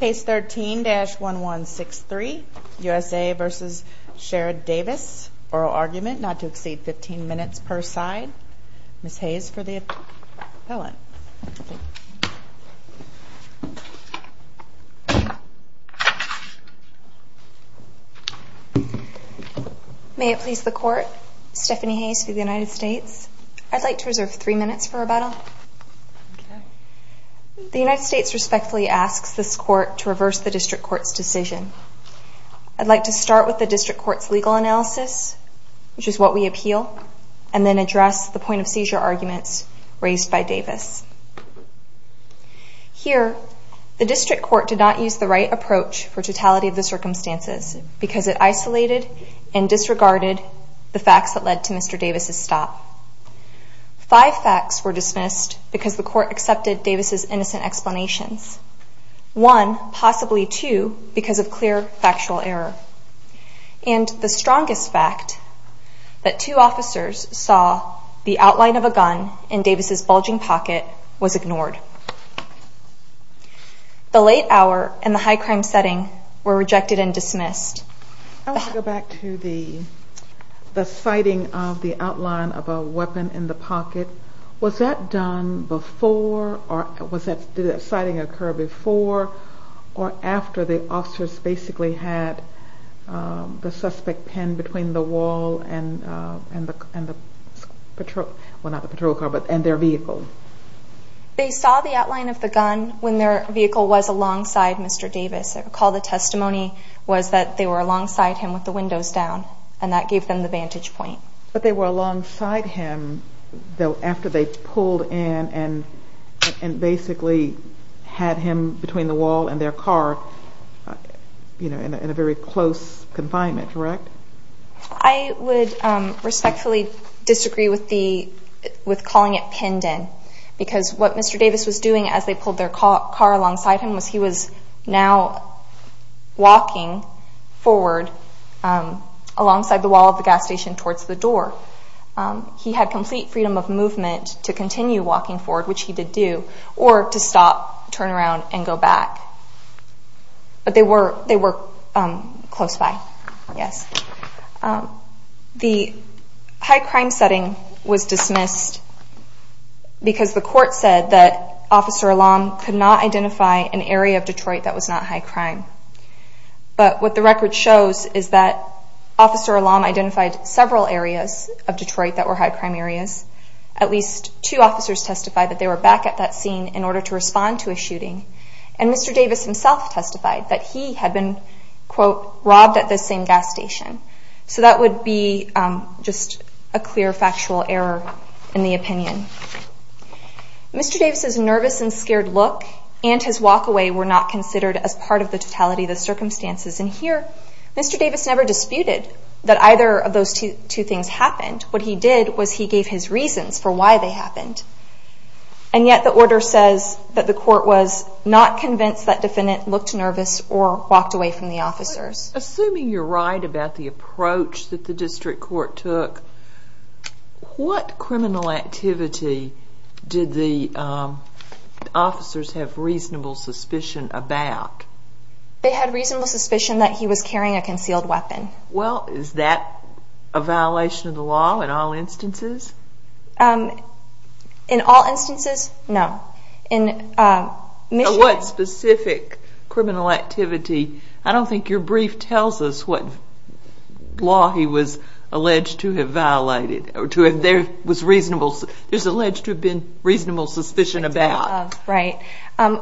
Case 13-1163, USA v. Sherrod Davis, Oral Argument, not to exceed 15 minutes per side. Ms. Hayes for the appellant. May it please the Court, Stephanie Hayes for the United States. The United States respectfully asks this Court to reverse the District Court's decision. I'd like to start with the District Court's legal analysis, which is what we appeal, and then address the point of seizure arguments raised by Davis. Here, the District Court did not use the right approach for totality of the circumstances because it isolated and disregarded the facts that led to Mr. Davis' stop. Five facts were dismissed because the Court accepted Davis' innocent explanations. One, possibly two, because of clear factual error. And the strongest fact, that two officers saw the outline of a gun in Davis' bulging pocket, was ignored. The late hour and the high crime setting were rejected and dismissed. I want to go back to the sighting of the outline of a weapon in the pocket. Was that done before, or did the sighting occur before or after the officers basically had the suspect pinned between the wall and their vehicle? They saw the outline of the gun when their vehicle was alongside Mr. Davis. I recall the testimony was that they were alongside him with the windows down, and that gave them the vantage point. But they were alongside him after they pulled in and basically had him between the wall and their car in a very close confinement, correct? I would respectfully disagree with calling it pinned in, because what Mr. Davis was doing as they pulled their car alongside him was he was now walking forward alongside the wall of the gas station towards the door. He had complete freedom of movement to continue walking forward, which he did do, or to stop, turn around, and go back. But they were close by, yes. The high crime setting was dismissed because the court said that Officer Alam could not identify an area of Detroit that was not high crime. But what the record shows is that Officer Alam identified several areas of Detroit that were high crime areas. At least two officers testified that they were back at that scene in order to respond to a shooting, and Mr. Davis himself testified that he had been quote, robbed at this same gas station. So that would be just a clear factual error in the opinion. Mr. Davis' nervous and scared look and his walk away were not considered as part of the totality of the circumstances. And here, Mr. Davis never disputed that either of those two things happened. What he did was he gave his reasons for why they happened. And yet the order says that the court was not convinced that the defendant looked nervous or walked away from the officers. Assuming you're right about the approach that the district court took, what criminal activity did the officers have reasonable suspicion about? They had reasonable suspicion that he was carrying a concealed weapon. Well, is that a violation of the law in all instances? In all instances, no. What specific criminal activity? I don't think your brief tells us what law he was alleged to have violated. There's alleged to have been reasonable suspicion about.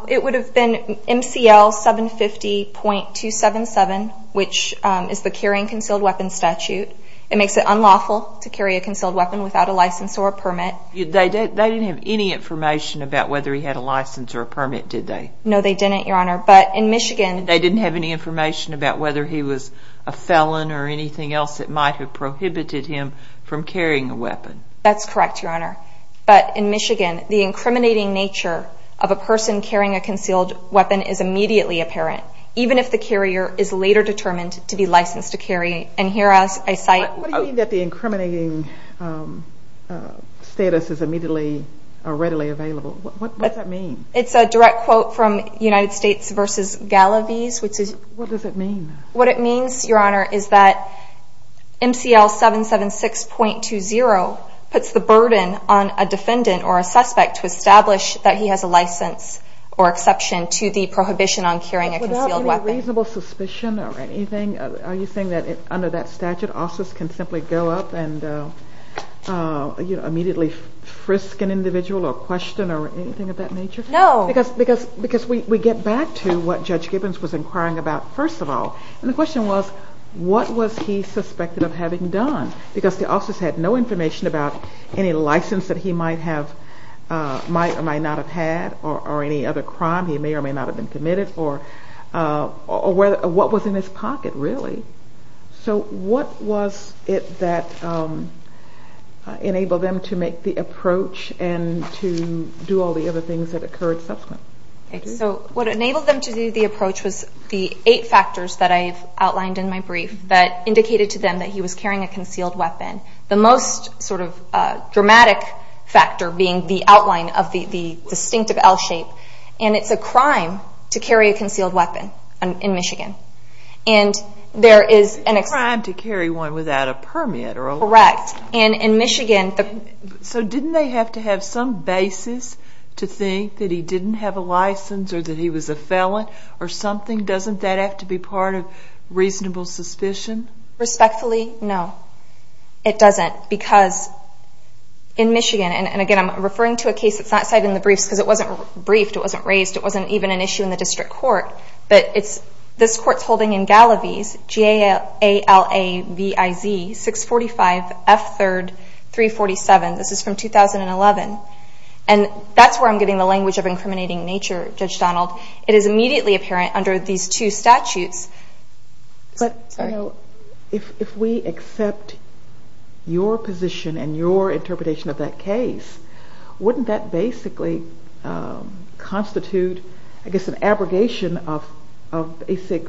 It would have been MCL 750.277, which is the Carrying Concealed Weapons Statute. It makes it unlawful to carry a concealed weapon without a license or a permit. They didn't have any information about whether he had a license or a permit, did they? No, they didn't, Your Honor. They didn't have any information about whether he was a felon or anything else that might have prohibited him from carrying a weapon. That's correct, Your Honor. But in Michigan, the incriminating nature of a person carrying a concealed weapon is immediately apparent, even if the carrier is later determined to be licensed to carry. What do you mean that the incriminating status is immediately or readily available? What does that mean? It's a direct quote from United States v. Galavis. What does it mean? What it means, Your Honor, is that MCL 776.20 puts the burden on a defendant or a suspect to establish that he has a license or exception to the prohibition on carrying a concealed weapon. Without any reasonable suspicion or anything, are you saying that under that statute, officers can simply go up and immediately frisk an individual or question or anything of that nature? No. Because we get back to what Judge Gibbons was inquiring about, first of all. And the question was, what was he suspected of having done? Because the officers had no information about any license that he might have or might not have had or any other crime he may or may not have been committed or what was in his pocket, really. So what was it that enabled them to make the approach and to do all the other things that occurred subsequent? So what enabled them to do the approach was the eight factors that I've outlined in my brief that indicated to them that he was carrying a concealed weapon. The most sort of dramatic factor being the outline of the distinctive L shape. And it's a crime to carry a concealed weapon in Michigan. And there is an exception. Correct. So didn't they have to have some basis to think that he didn't have a license or that he was a felon or something? Doesn't that have to be part of reasonable suspicion? Respectfully, no, it doesn't. Because in Michigan, and again, I'm referring to a case that's not cited in the briefs because it wasn't briefed, it wasn't raised, it wasn't even an issue in the district court. But this court's holding in Galaviz, G-A-L-A-V-I-Z, 645 F 3rd, 347. This is from 2011. And that's where I'm getting the language of incriminating nature, Judge Donald. It is immediately apparent under these two statutes. But if we accept your position and your interpretation of that case, wouldn't that basically constitute, I guess, an abrogation of basic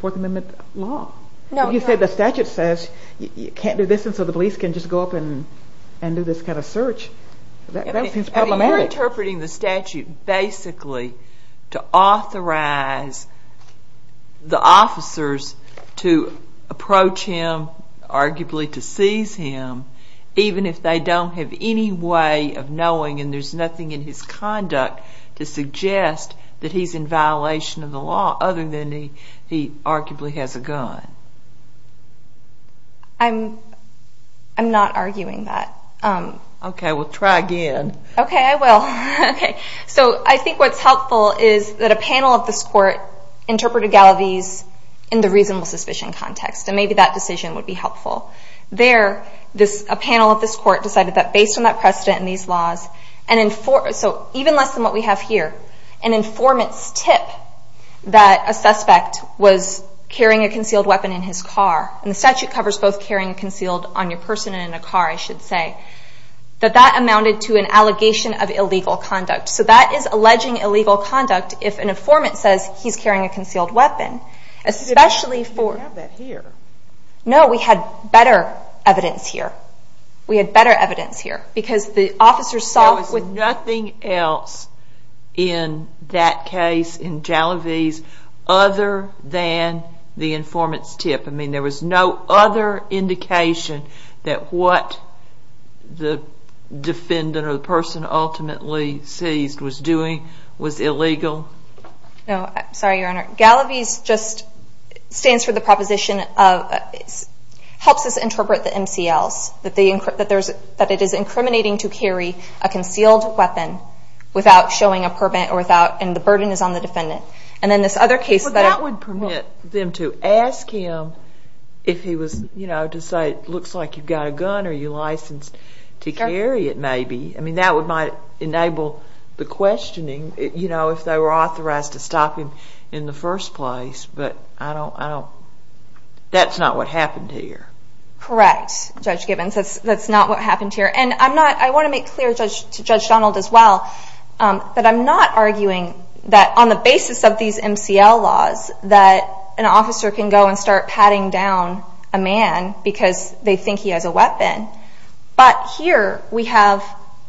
Fourth Amendment law? You said the statute says you can't do this and so the police can just go up and do this kind of search. That seems problematic. You're interpreting the statute basically to authorize the officers to approach him, arguably to seize him, even if they don't have any way of knowing and there's nothing in his conduct to suggest that he's in violation of the law, other than he arguably has a gun. I'm not arguing that. Okay, well try again. Okay, I will. So I think what's helpful is that a panel of this court interpreted Galaviz in the reasonable suspicion context. And maybe that decision would be helpful. There, a panel of this court decided that based on that precedent and these laws, even less than what we have here, an informant's tip that a suspect was carrying a concealed weapon in his car, and the statute covers both carrying a concealed on your person and in a car, I should say, that that amounted to an allegation of illegal conduct. So that is alleging illegal conduct if an informant says he's carrying a concealed weapon. No, we had better evidence here. There was nothing else in that case, in Galaviz, other than the informant's tip. I mean, there was no other indication that what the defendant or the person ultimately seized was doing was illegal. No, I'm sorry, Your Honor. Galaviz just stands for the proposition, helps us interpret the MCLs, that it is incriminating to carry a concealed weapon without showing a permit and the burden is on the defendant. Well, that would permit them to ask him if he was, you know, to say it looks like you've got a gun or you're licensed to carry it, maybe. I mean, that might enable the questioning, you know, if they were authorized to stop him in the first place, but that's not what happened here. Correct, Judge Gibbons, that's not what happened here. And I want to make clear to Judge Donald as well that I'm not arguing that on the basis of these MCL laws that an officer can go and start patting down a man because they think he has a weapon, but here we have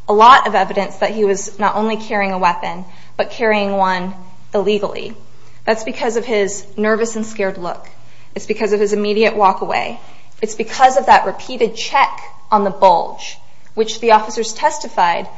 a lot of evidence that he was not only carrying a weapon, but carrying one illegally. That's because of his nervous and scared look. It's because of his immediate walk away. It's because of that repeated check on the bulge, which the officers testified,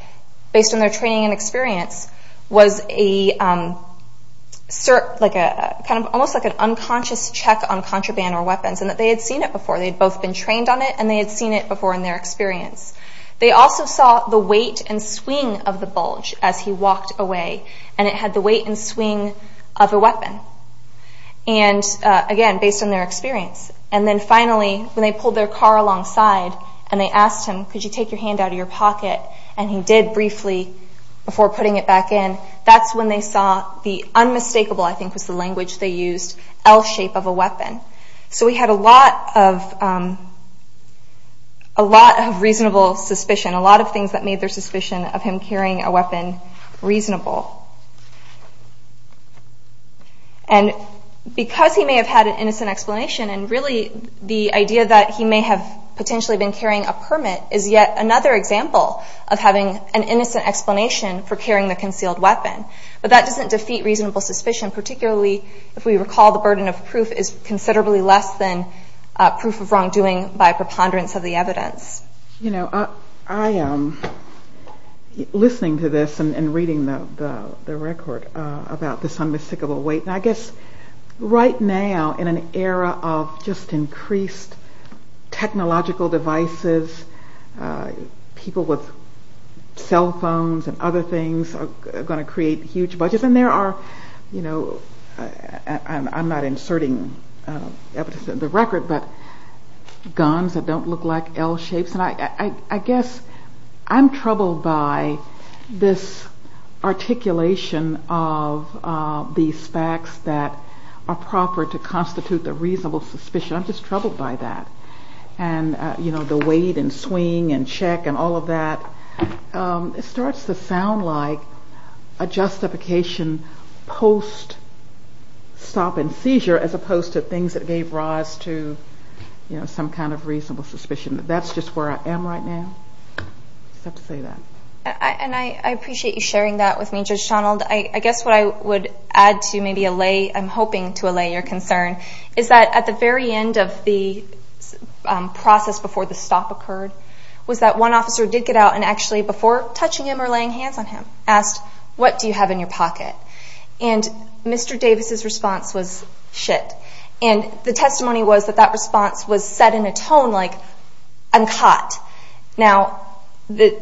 based on their training and experience, was a almost like an unconscious check on contraband or weapons and that they had seen it before. They had both been trained on it and they had seen it before in their experience. They also saw the weight and swing of the bulge as he walked away and it had the weight and swing of a weapon. And again, based on their experience. And then finally, when they pulled their car alongside and they asked him, could you take your hand out of your pocket, and he did briefly before putting it back in, that's when they saw the unmistakable, I think was the language they used, L-shape of a weapon. So we had a lot of reasonable suspicion, a lot of things that made their suspicion of him carrying a weapon reasonable. And because he may have had an innocent explanation and really the idea that he may have potentially been carrying a permit is yet another example of having an innocent explanation for carrying the concealed weapon. But that doesn't defeat reasonable suspicion, particularly if we recall the burden of proof is considerably less than proof of wrongdoing by preponderance of the evidence. You know, I am listening to this and reading the record about this unmistakable weight. And I guess right now in an era of just increased technological devices, people with cell phones and other things are going to create huge budgets. And there are, you know, I'm not inserting evidence in the record, but guns that don't look like L-shapes. And I guess I'm troubled by this articulation of these facts that are proper to constitute the reasonable suspicion. I'm just troubled by that. And, you know, the weight and swing and check and all of that. It starts to sound like a justification post-stop and seizure as opposed to things that gave rise to some kind of reasonable suspicion. That's just where I am right now. I just have to say that. I guess what I would add to maybe allay, I'm hoping to allay your concern, is that at the very end of the process before the stop occurred was that one officer did get out and actually before touching him or laying hands on him asked, what do you have in your pocket? And Mr. Davis' response was, shit. And the testimony was that that response was said in a tone like, I'm caught. Now, the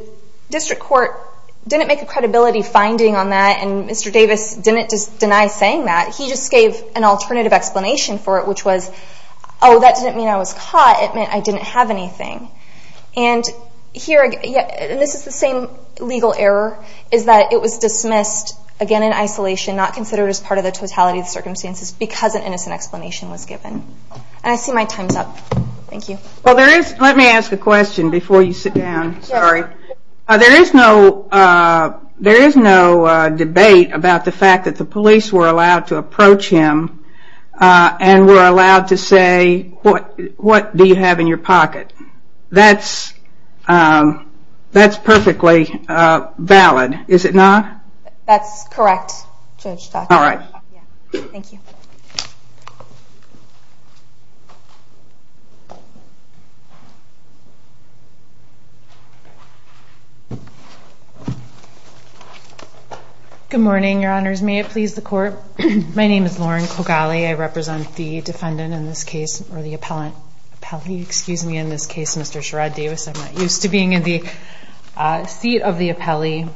district court didn't make a credibility finding on that and Mr. Davis didn't deny saying that. He just gave an alternative explanation for it which was, oh, that didn't mean I was caught, it meant I didn't have anything. And this is the same legal error, is that it was dismissed again in isolation, not considered as part of the totality of the circumstances because an innocent explanation was given. And I see my time's up. Thank you. Let me ask a question before you sit down. There is no debate about the fact that the police were allowed to approach him and were allowed to say, what do you have in your pocket? That's perfectly valid, is it not? That's correct, Judge Tucker. Good morning, your honors. May it please the court. My name is Lauren Kogali. I represent the defendant in this case, or the appellate. Excuse me, in this case, Mr. Sherrod Davis. I'm not used to being in the seat of the appellee.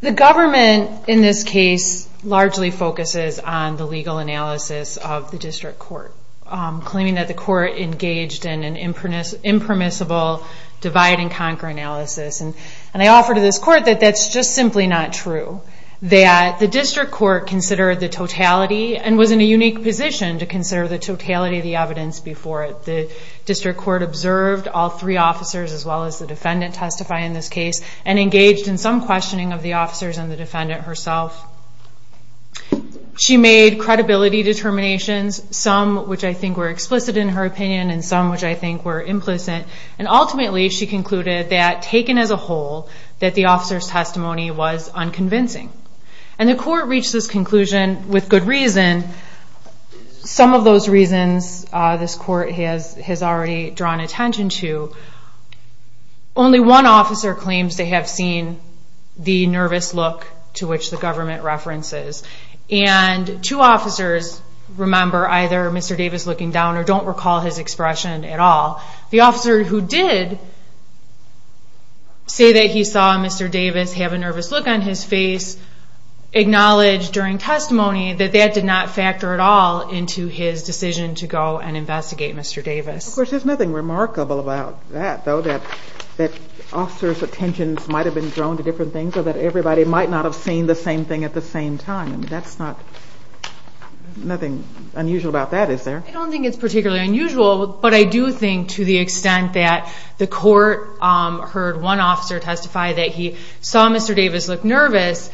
The government in this case largely focuses on the legal analysis of the district court, claiming that the court engaged in an impermissible divide-and-conquer analysis. And I offer to this court that that's just simply not true, that the district court considered the totality and was in a unique position to consider the totality of the evidence before it. The district court observed all three officers, as well as the defendant testifying in this case, and engaged in some questioning of the officers and the defendant herself. She made credibility determinations, some which I think were explicit in her opinion, and some which I think were implicit. And ultimately, she concluded that, taken as a whole, that the officers' testimony was unconvincing. And the court reached this conclusion with good reason. Some of those reasons this court has already drawn attention to. Only one officer claims to have seen the nervous look to which the government references. And two officers remember either Mr. Davis looking down or don't recall his expression at all. The officer who did say that he saw Mr. Davis have a nervous look on his face acknowledged during testimony that that did not factor at all into his decision to go and investigate Mr. Davis. Of course, there's nothing remarkable about that, though, that officers' attentions might have been drawn to different things or that everybody might not have seen the same thing at the same time. Nothing unusual about that, is there? I don't think it's particularly unusual, but I do think to the extent that the court heard one officer testify that he saw Mr. Davis look nervous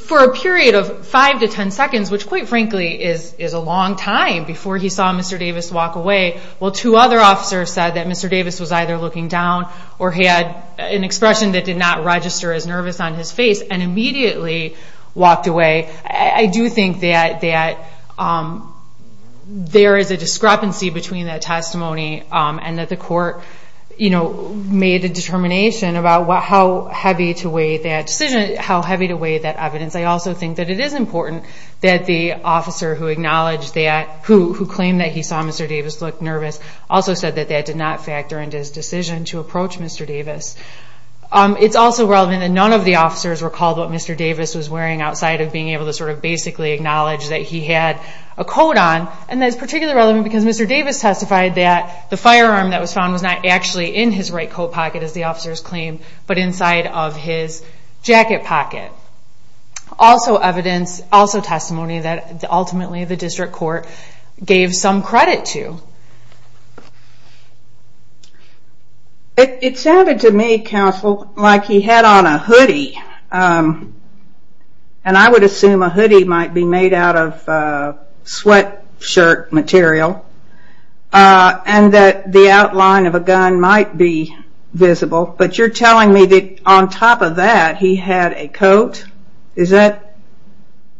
for a period of five to ten seconds, which, quite frankly, is a long time before he saw Mr. Davis walk away, while two other officers said that Mr. Davis was either looking down or had an expression that did not register as nervous on his face and immediately walked away, I do think that there is a discrepancy between that testimony and that the court made a determination about how heavy to weigh that evidence. I also think that it is important that the officer who claimed that he saw Mr. Davis look nervous also said that that did not factor into his decision to approach Mr. Davis. It's also relevant that none of the officers recalled what Mr. Davis was wearing outside of being able to basically acknowledge that he had a coat on, and that's particularly relevant because Mr. Davis testified that the firearm that was found was not actually in his right coat pocket, as the officers claimed, but inside of his jacket pocket. Also testimony that ultimately the district court gave some credit to. It sounded to me, counsel, like he had on a hoodie, and I would assume a hoodie might be made out of sweatshirt material, and that the outline of a gun might be visible, but you're telling me that on top of that he had a coat?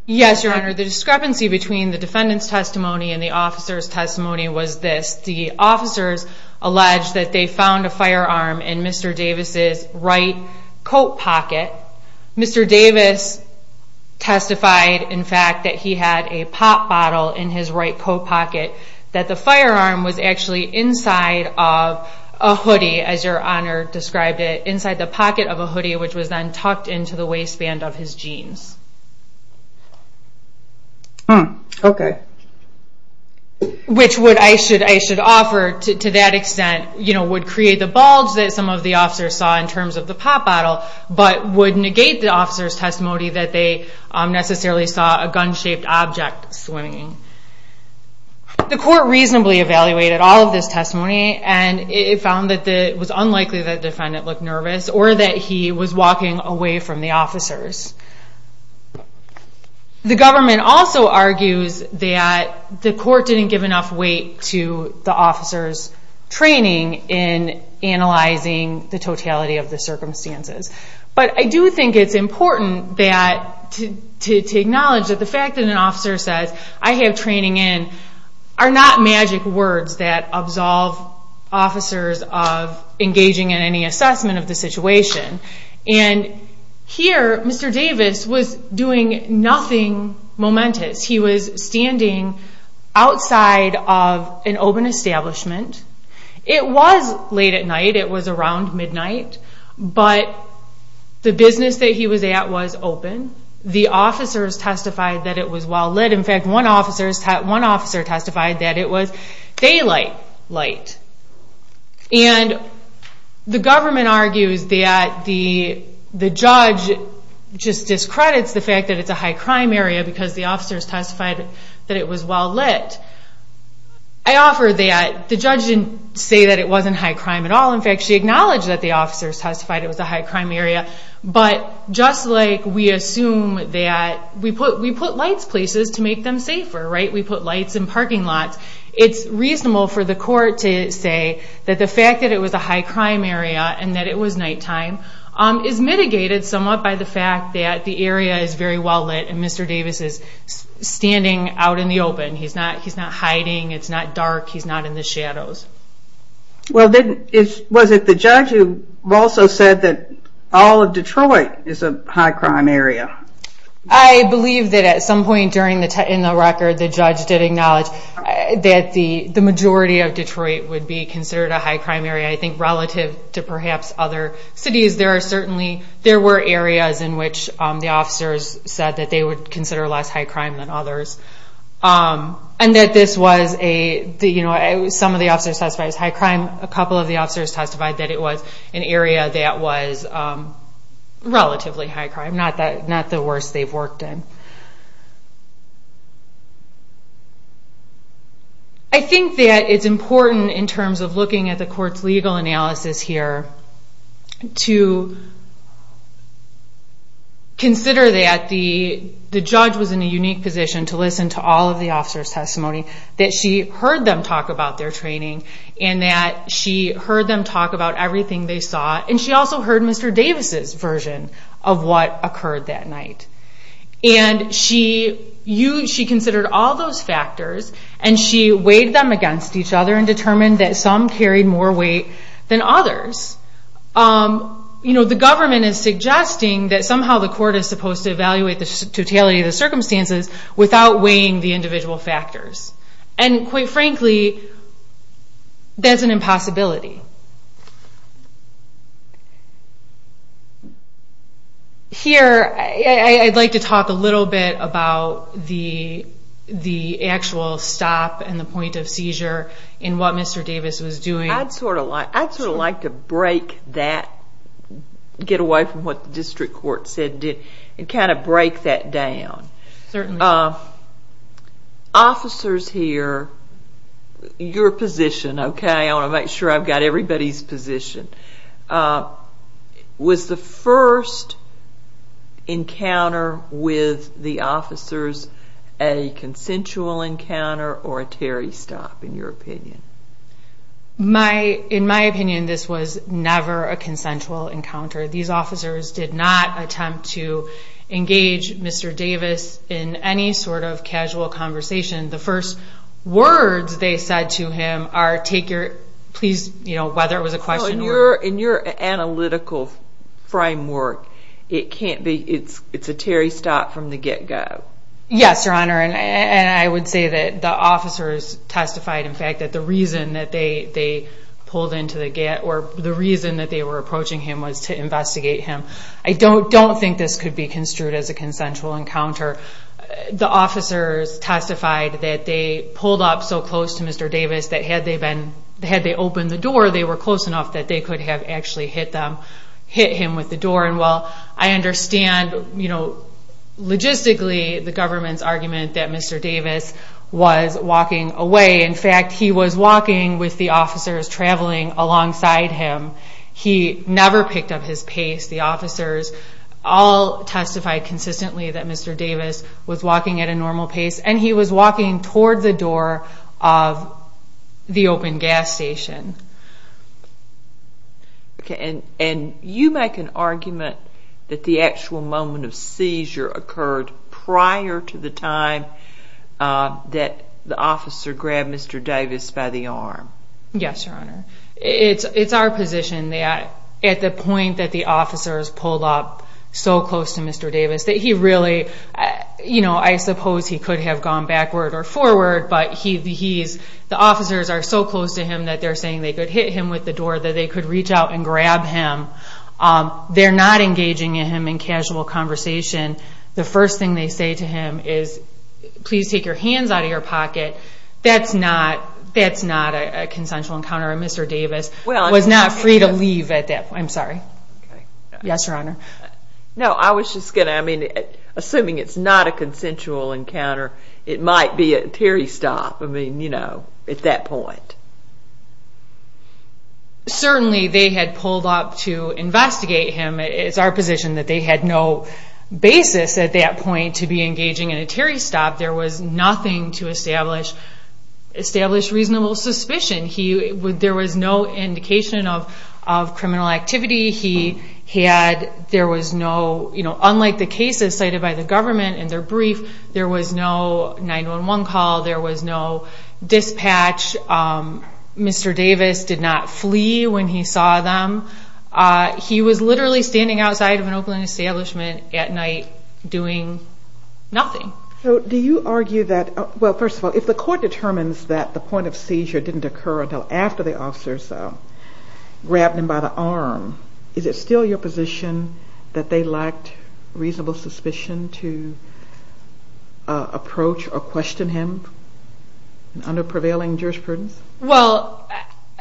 Yes, Your Honor. The discrepancy between the defendant's testimony and the officer's testimony was this. The officers alleged that they found a firearm in Mr. Davis' right coat pocket. Mr. Davis testified, in fact, that he had a pop bottle in his right coat pocket that the firearm was actually inside of a hoodie, as Your Honor described it, inside the pocket of a hoodie, which was then tucked into the waistband of his jeans. Which I should offer, to that extent, would create the bulge that some of the officers saw in terms of the pop bottle, but would negate the officers' testimony that they necessarily saw a gun-shaped object swinging. The court reasonably evaluated all of this testimony, and it found that it was unlikely that the defendant looked nervous, or that he was walking away from the officers. The government also argues that the court didn't give enough weight to the officers' training in analyzing the totality of the circumstances. But I do think it's important to acknowledge that the fact that an officer says, I have training in, are not magic words that absolve officers of engaging in any assessment of the situation. Here, Mr. Davis was doing nothing momentous. He was standing outside of an open establishment. It was late at night, it was around midnight, but the business that he was at was open. The officers testified that it was well lit. In fact, one officer testified that it was daylight light. And the government argues that the judge just discredits the fact that it's a high-crime area, because the officers testified that it was well lit. I offer that the judge didn't say that it wasn't high-crime at all. In fact, she acknowledged that the officers testified it was a high-crime area, but just like we assume that we put lights places to make them safer, we put lights in parking lots, it's reasonable for the court to say that the fact that it was a high-crime area and that it was nighttime is mitigated somewhat by the fact that the area is very well lit and Mr. Davis is standing out in the open. He's not hiding, it's not dark, he's not in the shadows. Was it the judge who also said that all of Detroit is a high-crime area? I believe that at some point in the record the judge did acknowledge that the majority of Detroit would be considered a high-crime area, I think relative to perhaps other cities. There were areas in which the officers said that they would consider less high-crime than others. Some of the officers testified it was high-crime, a couple of the officers testified that it was an area that was relatively high-crime, not the worst they've worked in. I think that it's important in terms of looking at the court's legal analysis here to consider that the judge was in a unique position to listen to all of the officers' testimony, that she heard them talk about their training and that she heard them talk about everything they saw, and she also heard Mr. Davis' version of what occurred that night. She considered all those factors and she weighed them against each other and determined that some carried more weight than others. The government is suggesting that somehow the court is supposed to evaluate the totality of the circumstances without weighing the individual factors. And quite frankly, that's an impossibility. Here, I'd like to talk a little bit about the actual stop and the point of seizure in what Mr. Davis was doing. I'd sort of like to break that, get away from what the district court said, and kind of break that down. Officers here, your position, okay? I want to make sure I've got everybody's position. Was the first encounter with the officers a consensual encounter or a Terry stop, in your opinion? In my opinion, this was never a consensual encounter. These officers did not attempt to engage Mr. Davis in any sort of casual conversation. The first words they said to him are, whether it was a question or... In your analytical framework, it's a Terry stop from the get-go. Yes, Your Honor, and I would say that the officers testified, in fact, that the reason that they pulled into the get... Or the reason that they were approaching him was to investigate him. I don't think this could be construed as a consensual encounter. The officers testified that they pulled up so close to Mr. Davis that had they opened the door, they were close enough that they could have actually hit him with the door. Logistically, the government's argument that Mr. Davis was walking away... In fact, he was walking with the officers traveling alongside him. He never picked up his pace. The officers all testified consistently that Mr. Davis was walking at a normal pace, and he was walking toward the door of the open gas station. And you make an argument that the actual moment of seizure occurred prior to the time that the officer grabbed Mr. Davis by the arm. Yes, Your Honor. It's our position that at the point that the officers pulled up so close to Mr. Davis that he really... I suppose he could have gone backward or forward, but the officers are so close to him that they're saying they could hit him with the door, that they could reach out and grab him. They're not engaging him in casual conversation. The first thing they say to him is, please take your hands out of your pocket. That's not a consensual encounter, and Mr. Davis was not free to leave at that point. I'm sorry. Yes, Your Honor. Assuming it's not a consensual encounter, it might be a teary stop at that point. Certainly they had pulled up to investigate him. It's our position that they had no basis at that point to be engaging in a teary stop. There was nothing to establish reasonable suspicion. There was no indication of criminal activity. Unlike the cases cited by the government in their brief, there was no 911 call, there was no dispatch. Mr. Davis did not flee when he saw them. He was literally standing outside of an open establishment at night doing nothing. Do you argue that... Well, first of all, if the court determines that the point of seizure didn't occur until after the officers grabbed him by the arm, is it still your position that they lacked reasonable suspicion to approach or question him under prevailing jurisprudence? Well,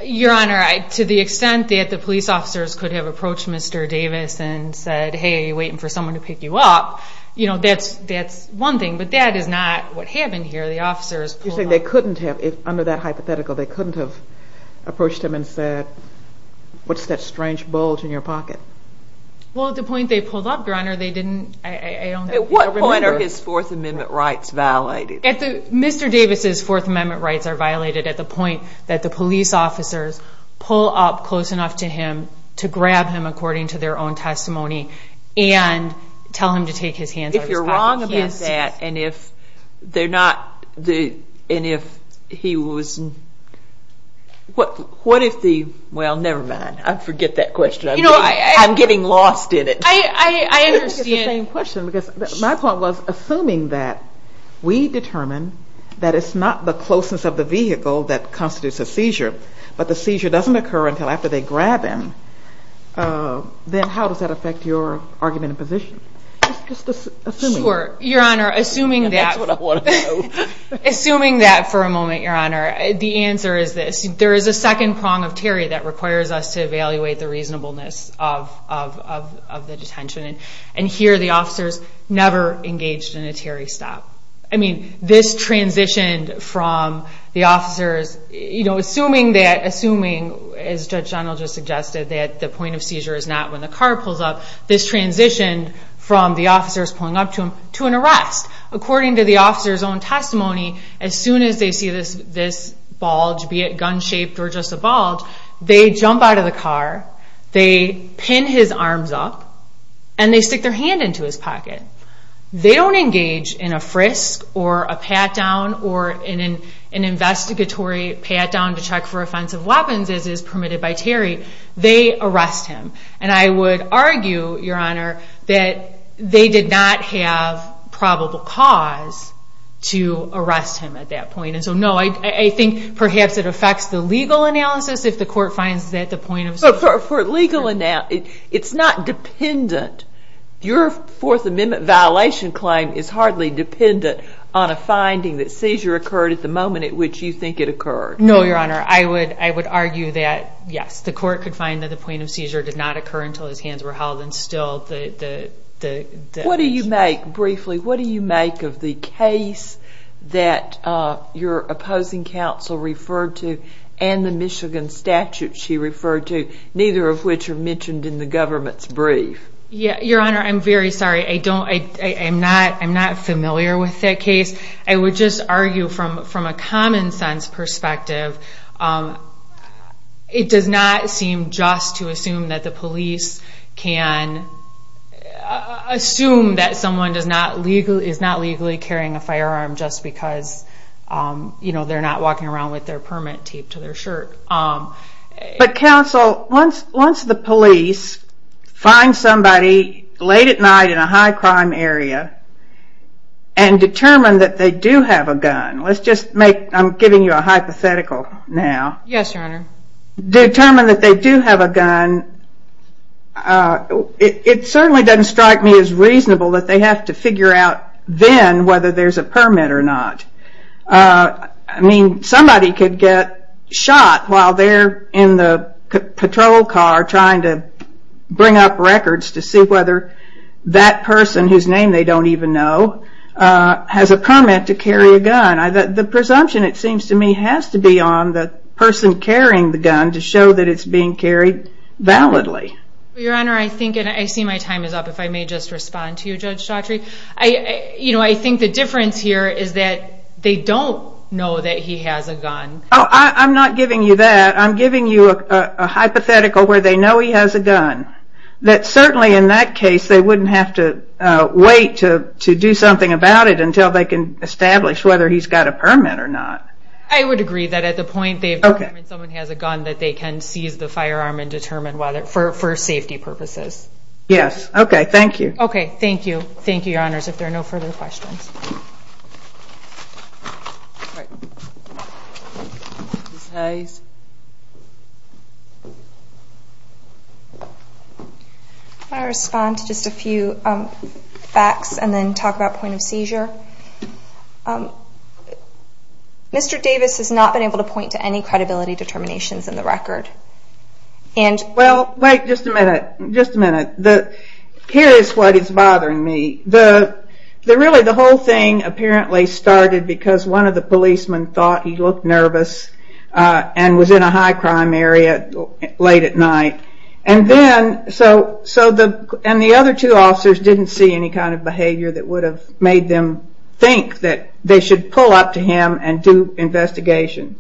Your Honor, to the extent that the police officers could have approached Mr. Davis and said, hey, we're waiting for someone to pick you up, that's one thing. But that is not what happened here. You're saying they couldn't have, under that hypothetical, they couldn't have approached him and said, what's that strange bulge in your pocket? Well, at the point they pulled up, Your Honor, they didn't... At what point are his Fourth Amendment rights violated? Mr. Davis's Fourth Amendment rights are violated at the point that the police officers pull up close enough to him to grab him according to their own testimony and tell him to take his hands off his pocket. If you're wrong about that and if they're not... And if he was... Well, never mind. I forget that question. I'm getting lost in it. I understand. It's the same question, because my point was, assuming that we determine that it's not the closeness of the vehicle that constitutes a seizure, but the seizure doesn't occur until after they grab him, then how does that affect your argument in position? Assuming that, for a moment, Your Honor, the answer is this. There is a second prong of Terry that requires us to evaluate the reasonableness of the detention, and here the officers never engaged in a Terry stop. I mean, this transitioned from the officers... Assuming, as Judge Dunlap just suggested, that the point of seizure is not when the car pulls up, this transitioned from the officers pulling up to him to an arrest. According to the officers' own testimony, as soon as they see this bulge, be it gun-shaped or just a bulge, they jump out of the car, they pin his arms up, and they stick their hand into his pocket. They don't engage in a frisk or a pat-down or an investigatory pat-down to check for offensive weapons, as is permitted by Terry. They arrest him, and I would argue, Your Honor, that they did not have probable cause to arrest him at that point. And so, no, I think perhaps it affects the legal analysis if the court finds that the point of seizure... But for legal analysis, it's not dependent. Your Fourth Amendment violation claim is hardly dependent on a finding that seizure occurred at the moment at which you think it occurred. No, Your Honor. I would argue that, yes, the court could find that the point of seizure did not occur until his hands were held and still the... What do you make, briefly, of the case that your opposing counsel referred to and the Michigan statute she referred to, neither of which are mentioned in the government's brief? Your Honor, I'm very sorry. I'm not familiar with that case. I would just argue, from a common-sense perspective, it does not seem just to assume that the police can... Assume that someone is not legally carrying a firearm just because they're not walking around with their permit taped to their shirt. But, counsel, once the police find somebody late at night in a high-crime area and determine that they do have a gun... Let's just make... I'm giving you a hypothetical now. Yes, Your Honor. Determine that they do have a gun, it certainly doesn't strike me as reasonable that they have to figure out then whether there's a permit or not. I mean, somebody could get shot while they're in the patrol car trying to bring up records to see whether that person, whose name they don't even know, has a permit to carry a gun. The presumption, it seems to me, has to be on the person carrying the gun to show that it's being carried validly. Your Honor, I think, and I see my time is up, if I may just respond to you, Judge Chaudry. I think the difference here is that they don't know that he has a gun. Oh, I'm not giving you that. I'm giving you a hypothetical where they know he has a gun. That certainly, in that case, they wouldn't have to wait to do something about it until they can establish whether he's got a permit or not. I would agree that at the point they have determined someone has a gun, that they can seize the firearm and determine whether, for safety purposes. Yes. Okay. Thank you. Okay. Thank you. Thank you, Your Honors. If there are no further questions. Ms. Hayes. Can I respond to just a few facts and then talk about point of seizure? Mr. Davis has not been able to point to any credibility determinations in the record. Well, wait just a minute. Just a minute. Here is what is bothering me. Really, the whole thing apparently started because one of the policemen thought he looked nervous and was in a high crime area late at night. The other two officers didn't see any kind of behavior that would have made them think that they should pull up to him and do investigation.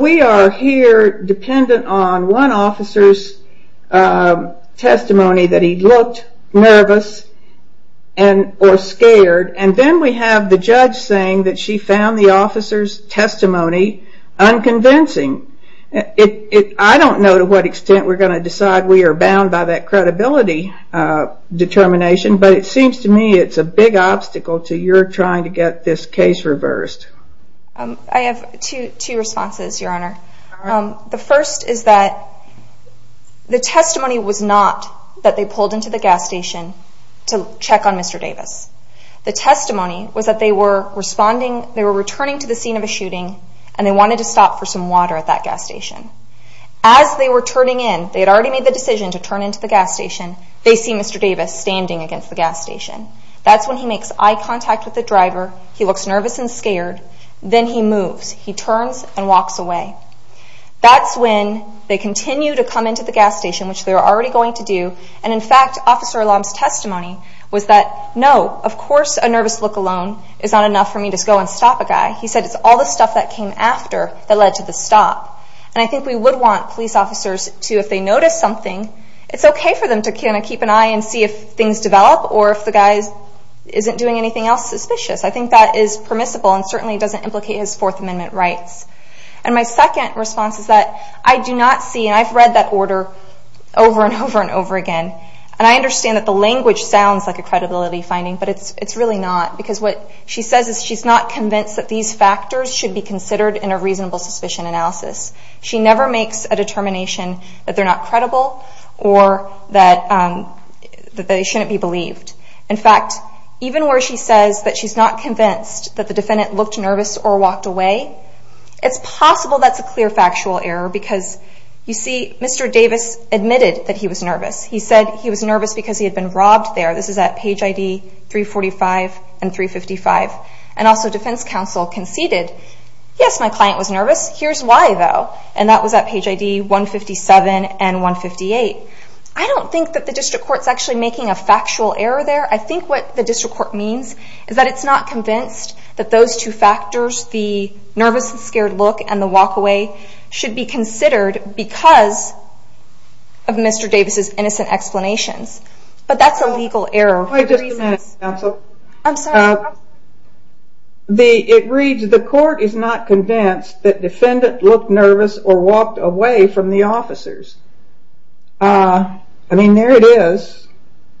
We are here dependent on one officer's testimony that he looked nervous or scared, and then we have the judge saying that she found the officer's testimony unconvincing. I don't know to what extent we're going to decide we are bound by that credibility determination, but it seems to me it's a big obstacle to your trying to get this case reversed. I have two responses, Your Honor. The first is that the testimony was not that they pulled into the gas station to check on Mr. Davis. The testimony was that they were returning to the scene of a shooting, and they wanted to stop for some water at that gas station. As they were turning in, they had already made the decision to turn into the gas station, they see Mr. Davis standing against the gas station. That's when he makes eye contact with the driver, he looks nervous and scared, then he moves. He turns and walks away. That's when they continue to come into the gas station, which they were already going to do, and in fact, Officer Elam's testimony was that, no, of course a nervous look alone is not enough for me to go and stop a guy. He said it's all the stuff that came after that led to the stop. And I think we would want police officers to, if they notice something, it's okay for them to keep an eye and see if things develop or if the guy isn't doing anything else suspicious. I think that is permissible and certainly doesn't implicate his Fourth Amendment rights. And my second response is that I do not see, and I've read that order over and over and over again, and I understand that the language sounds like a credibility finding, but it's really not, because what she says is she's not convinced that these factors should be considered in a reasonable suspicion analysis. She never makes a determination that they're not credible or that they shouldn't be believed. In fact, even where she says that she's not convinced that the defendant looked nervous or walked away, it's possible that's a clear factual error because, you see, Mr. Davis admitted that he was nervous. He said he was nervous because he had been robbed there. This is at page ID 345 and 355. And also defense counsel conceded, yes, my client was nervous, here's why, though. And that was at page ID 157 and 158. I don't think that the district court's actually making a factual error there. I think what the district court means is that it's not convinced that those two factors, the nervous and scared look and the walk away, should be considered because of Mr. Davis' innocent explanations. But that's a legal error. It reads, the court is not convinced that defendant looked nervous or walked away from the officers. I mean, there it is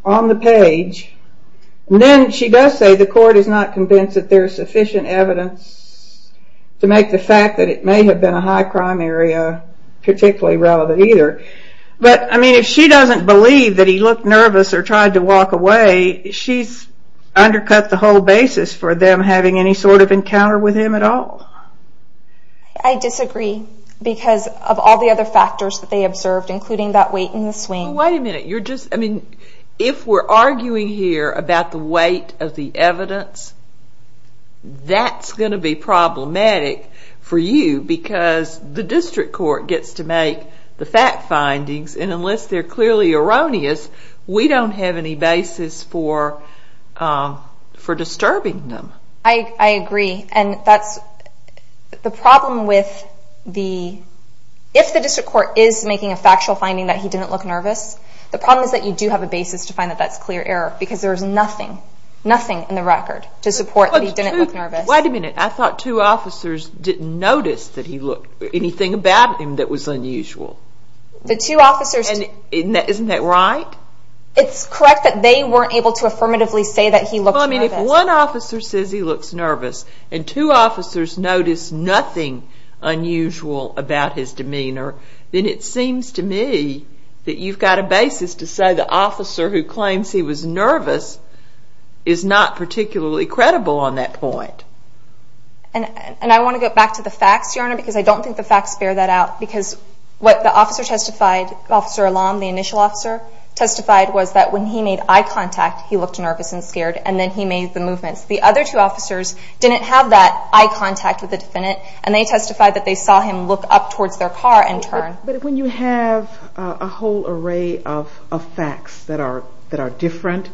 on the page. And then she does say the court is not convinced that there's sufficient evidence to make the fact that it may have been a high crime area particularly relevant either. But, I mean, if she doesn't believe that he looked nervous or tried to walk away, she's undercut the whole basis for them having any sort of encounter with him at all. I disagree because of all the other factors that they observed including that weight and the swing. Wait a minute, you're just, I mean, if we're arguing here about the weight of the evidence, that's going to be problematic for you because the district court gets to make the fact findings and unless they're clearly erroneous, we don't have any basis for disturbing them. I agree and that's the problem with the, if the district court is making a factual finding that he didn't look nervous, the problem is that you do have a basis to find that that's clear error because there's nothing, nothing in the record to support that he didn't look nervous. Wait a minute, I thought two officers didn't notice that he looked, anything about him that was unusual. The two officers. Isn't that right? It's correct that they weren't able to affirmatively say that he looked nervous. Well, I mean, if one officer says he looks nervous and two officers notice nothing unusual about his demeanor, then it seems to me that you've got a basis to say the officer who claims he was nervous is not particularly credible on that point. And I want to get back to the facts, Your Honor, because I don't think the facts bear that out because what the officer testified, Officer Alam, the initial officer, testified was that when he made eye contact, he looked nervous and scared and then he made the movements. The other two officers didn't have that eye contact with the defendant and they testified that they saw him look up towards their car and turn. But when you have a whole array of facts that are different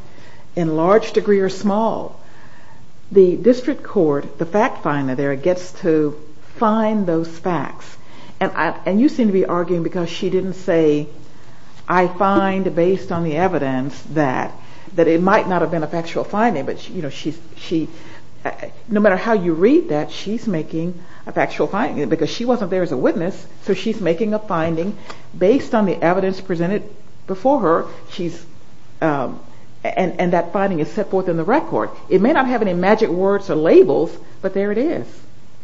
in large degree or small, the district court, the fact finder there, gets to find those facts. And you seem to be arguing because she didn't say, I find based on the evidence that it might not have been a factual finding, but no matter how you read that, she's making a factual finding because she wasn't there as a witness. So she's making a finding based on the evidence presented before her. And that finding is set forth in the record. It may not have any magic words or labels, but there it is.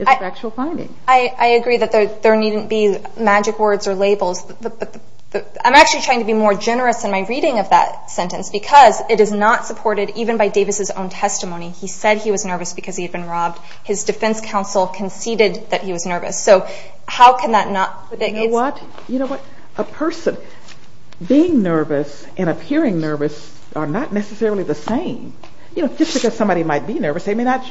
It's a factual finding. I agree that there needn't be magic words or labels. I'm actually trying to be more generous in my reading of that sentence because it is not supported even by Davis' own testimony. He said he was nervous because he had been robbed. His defense counsel conceded that he was nervous. A person being nervous and appearing nervous are not necessarily the same. Just because somebody might be nervous, they may not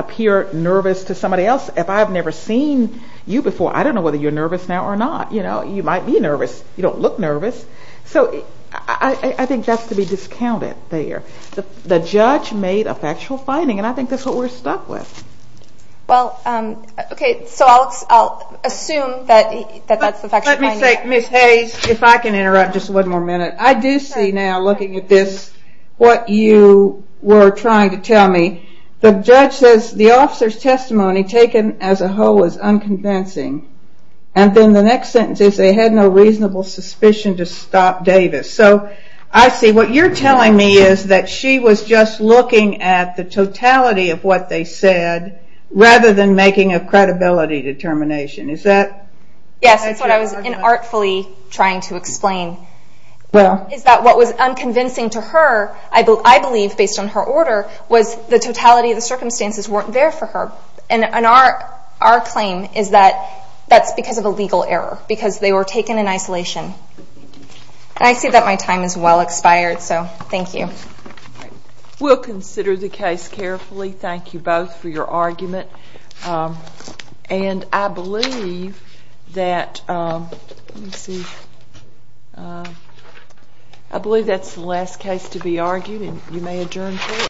appear nervous to somebody else. If I've never seen you before, I don't know whether you're nervous now or not. You might be nervous. You don't look nervous. I think that's to be discounted there. The judge made a factual finding and I think that's what we're stuck with. Ms. Hayes, if I can interrupt just one more minute. I do see now, looking at this, what you were trying to tell me. The judge says the officer's testimony taken as a whole was unconvincing. Then the next sentence is they had no reasonable suspicion to stop Davis. I see. What you're telling me is that she was just looking at the totality of what they said, rather than making a credibility determination. Yes, that's what I was inartfully trying to explain. What was unconvincing to her, I believe, based on her order, was the totality of the circumstances weren't there for her. Our claim is that that's because of a legal error, because they were taken in isolation. I see that my time has well expired, so thank you. We'll consider the case carefully. Thank you both for your argument. I believe that's the last case to be argued, and you may adjourn court.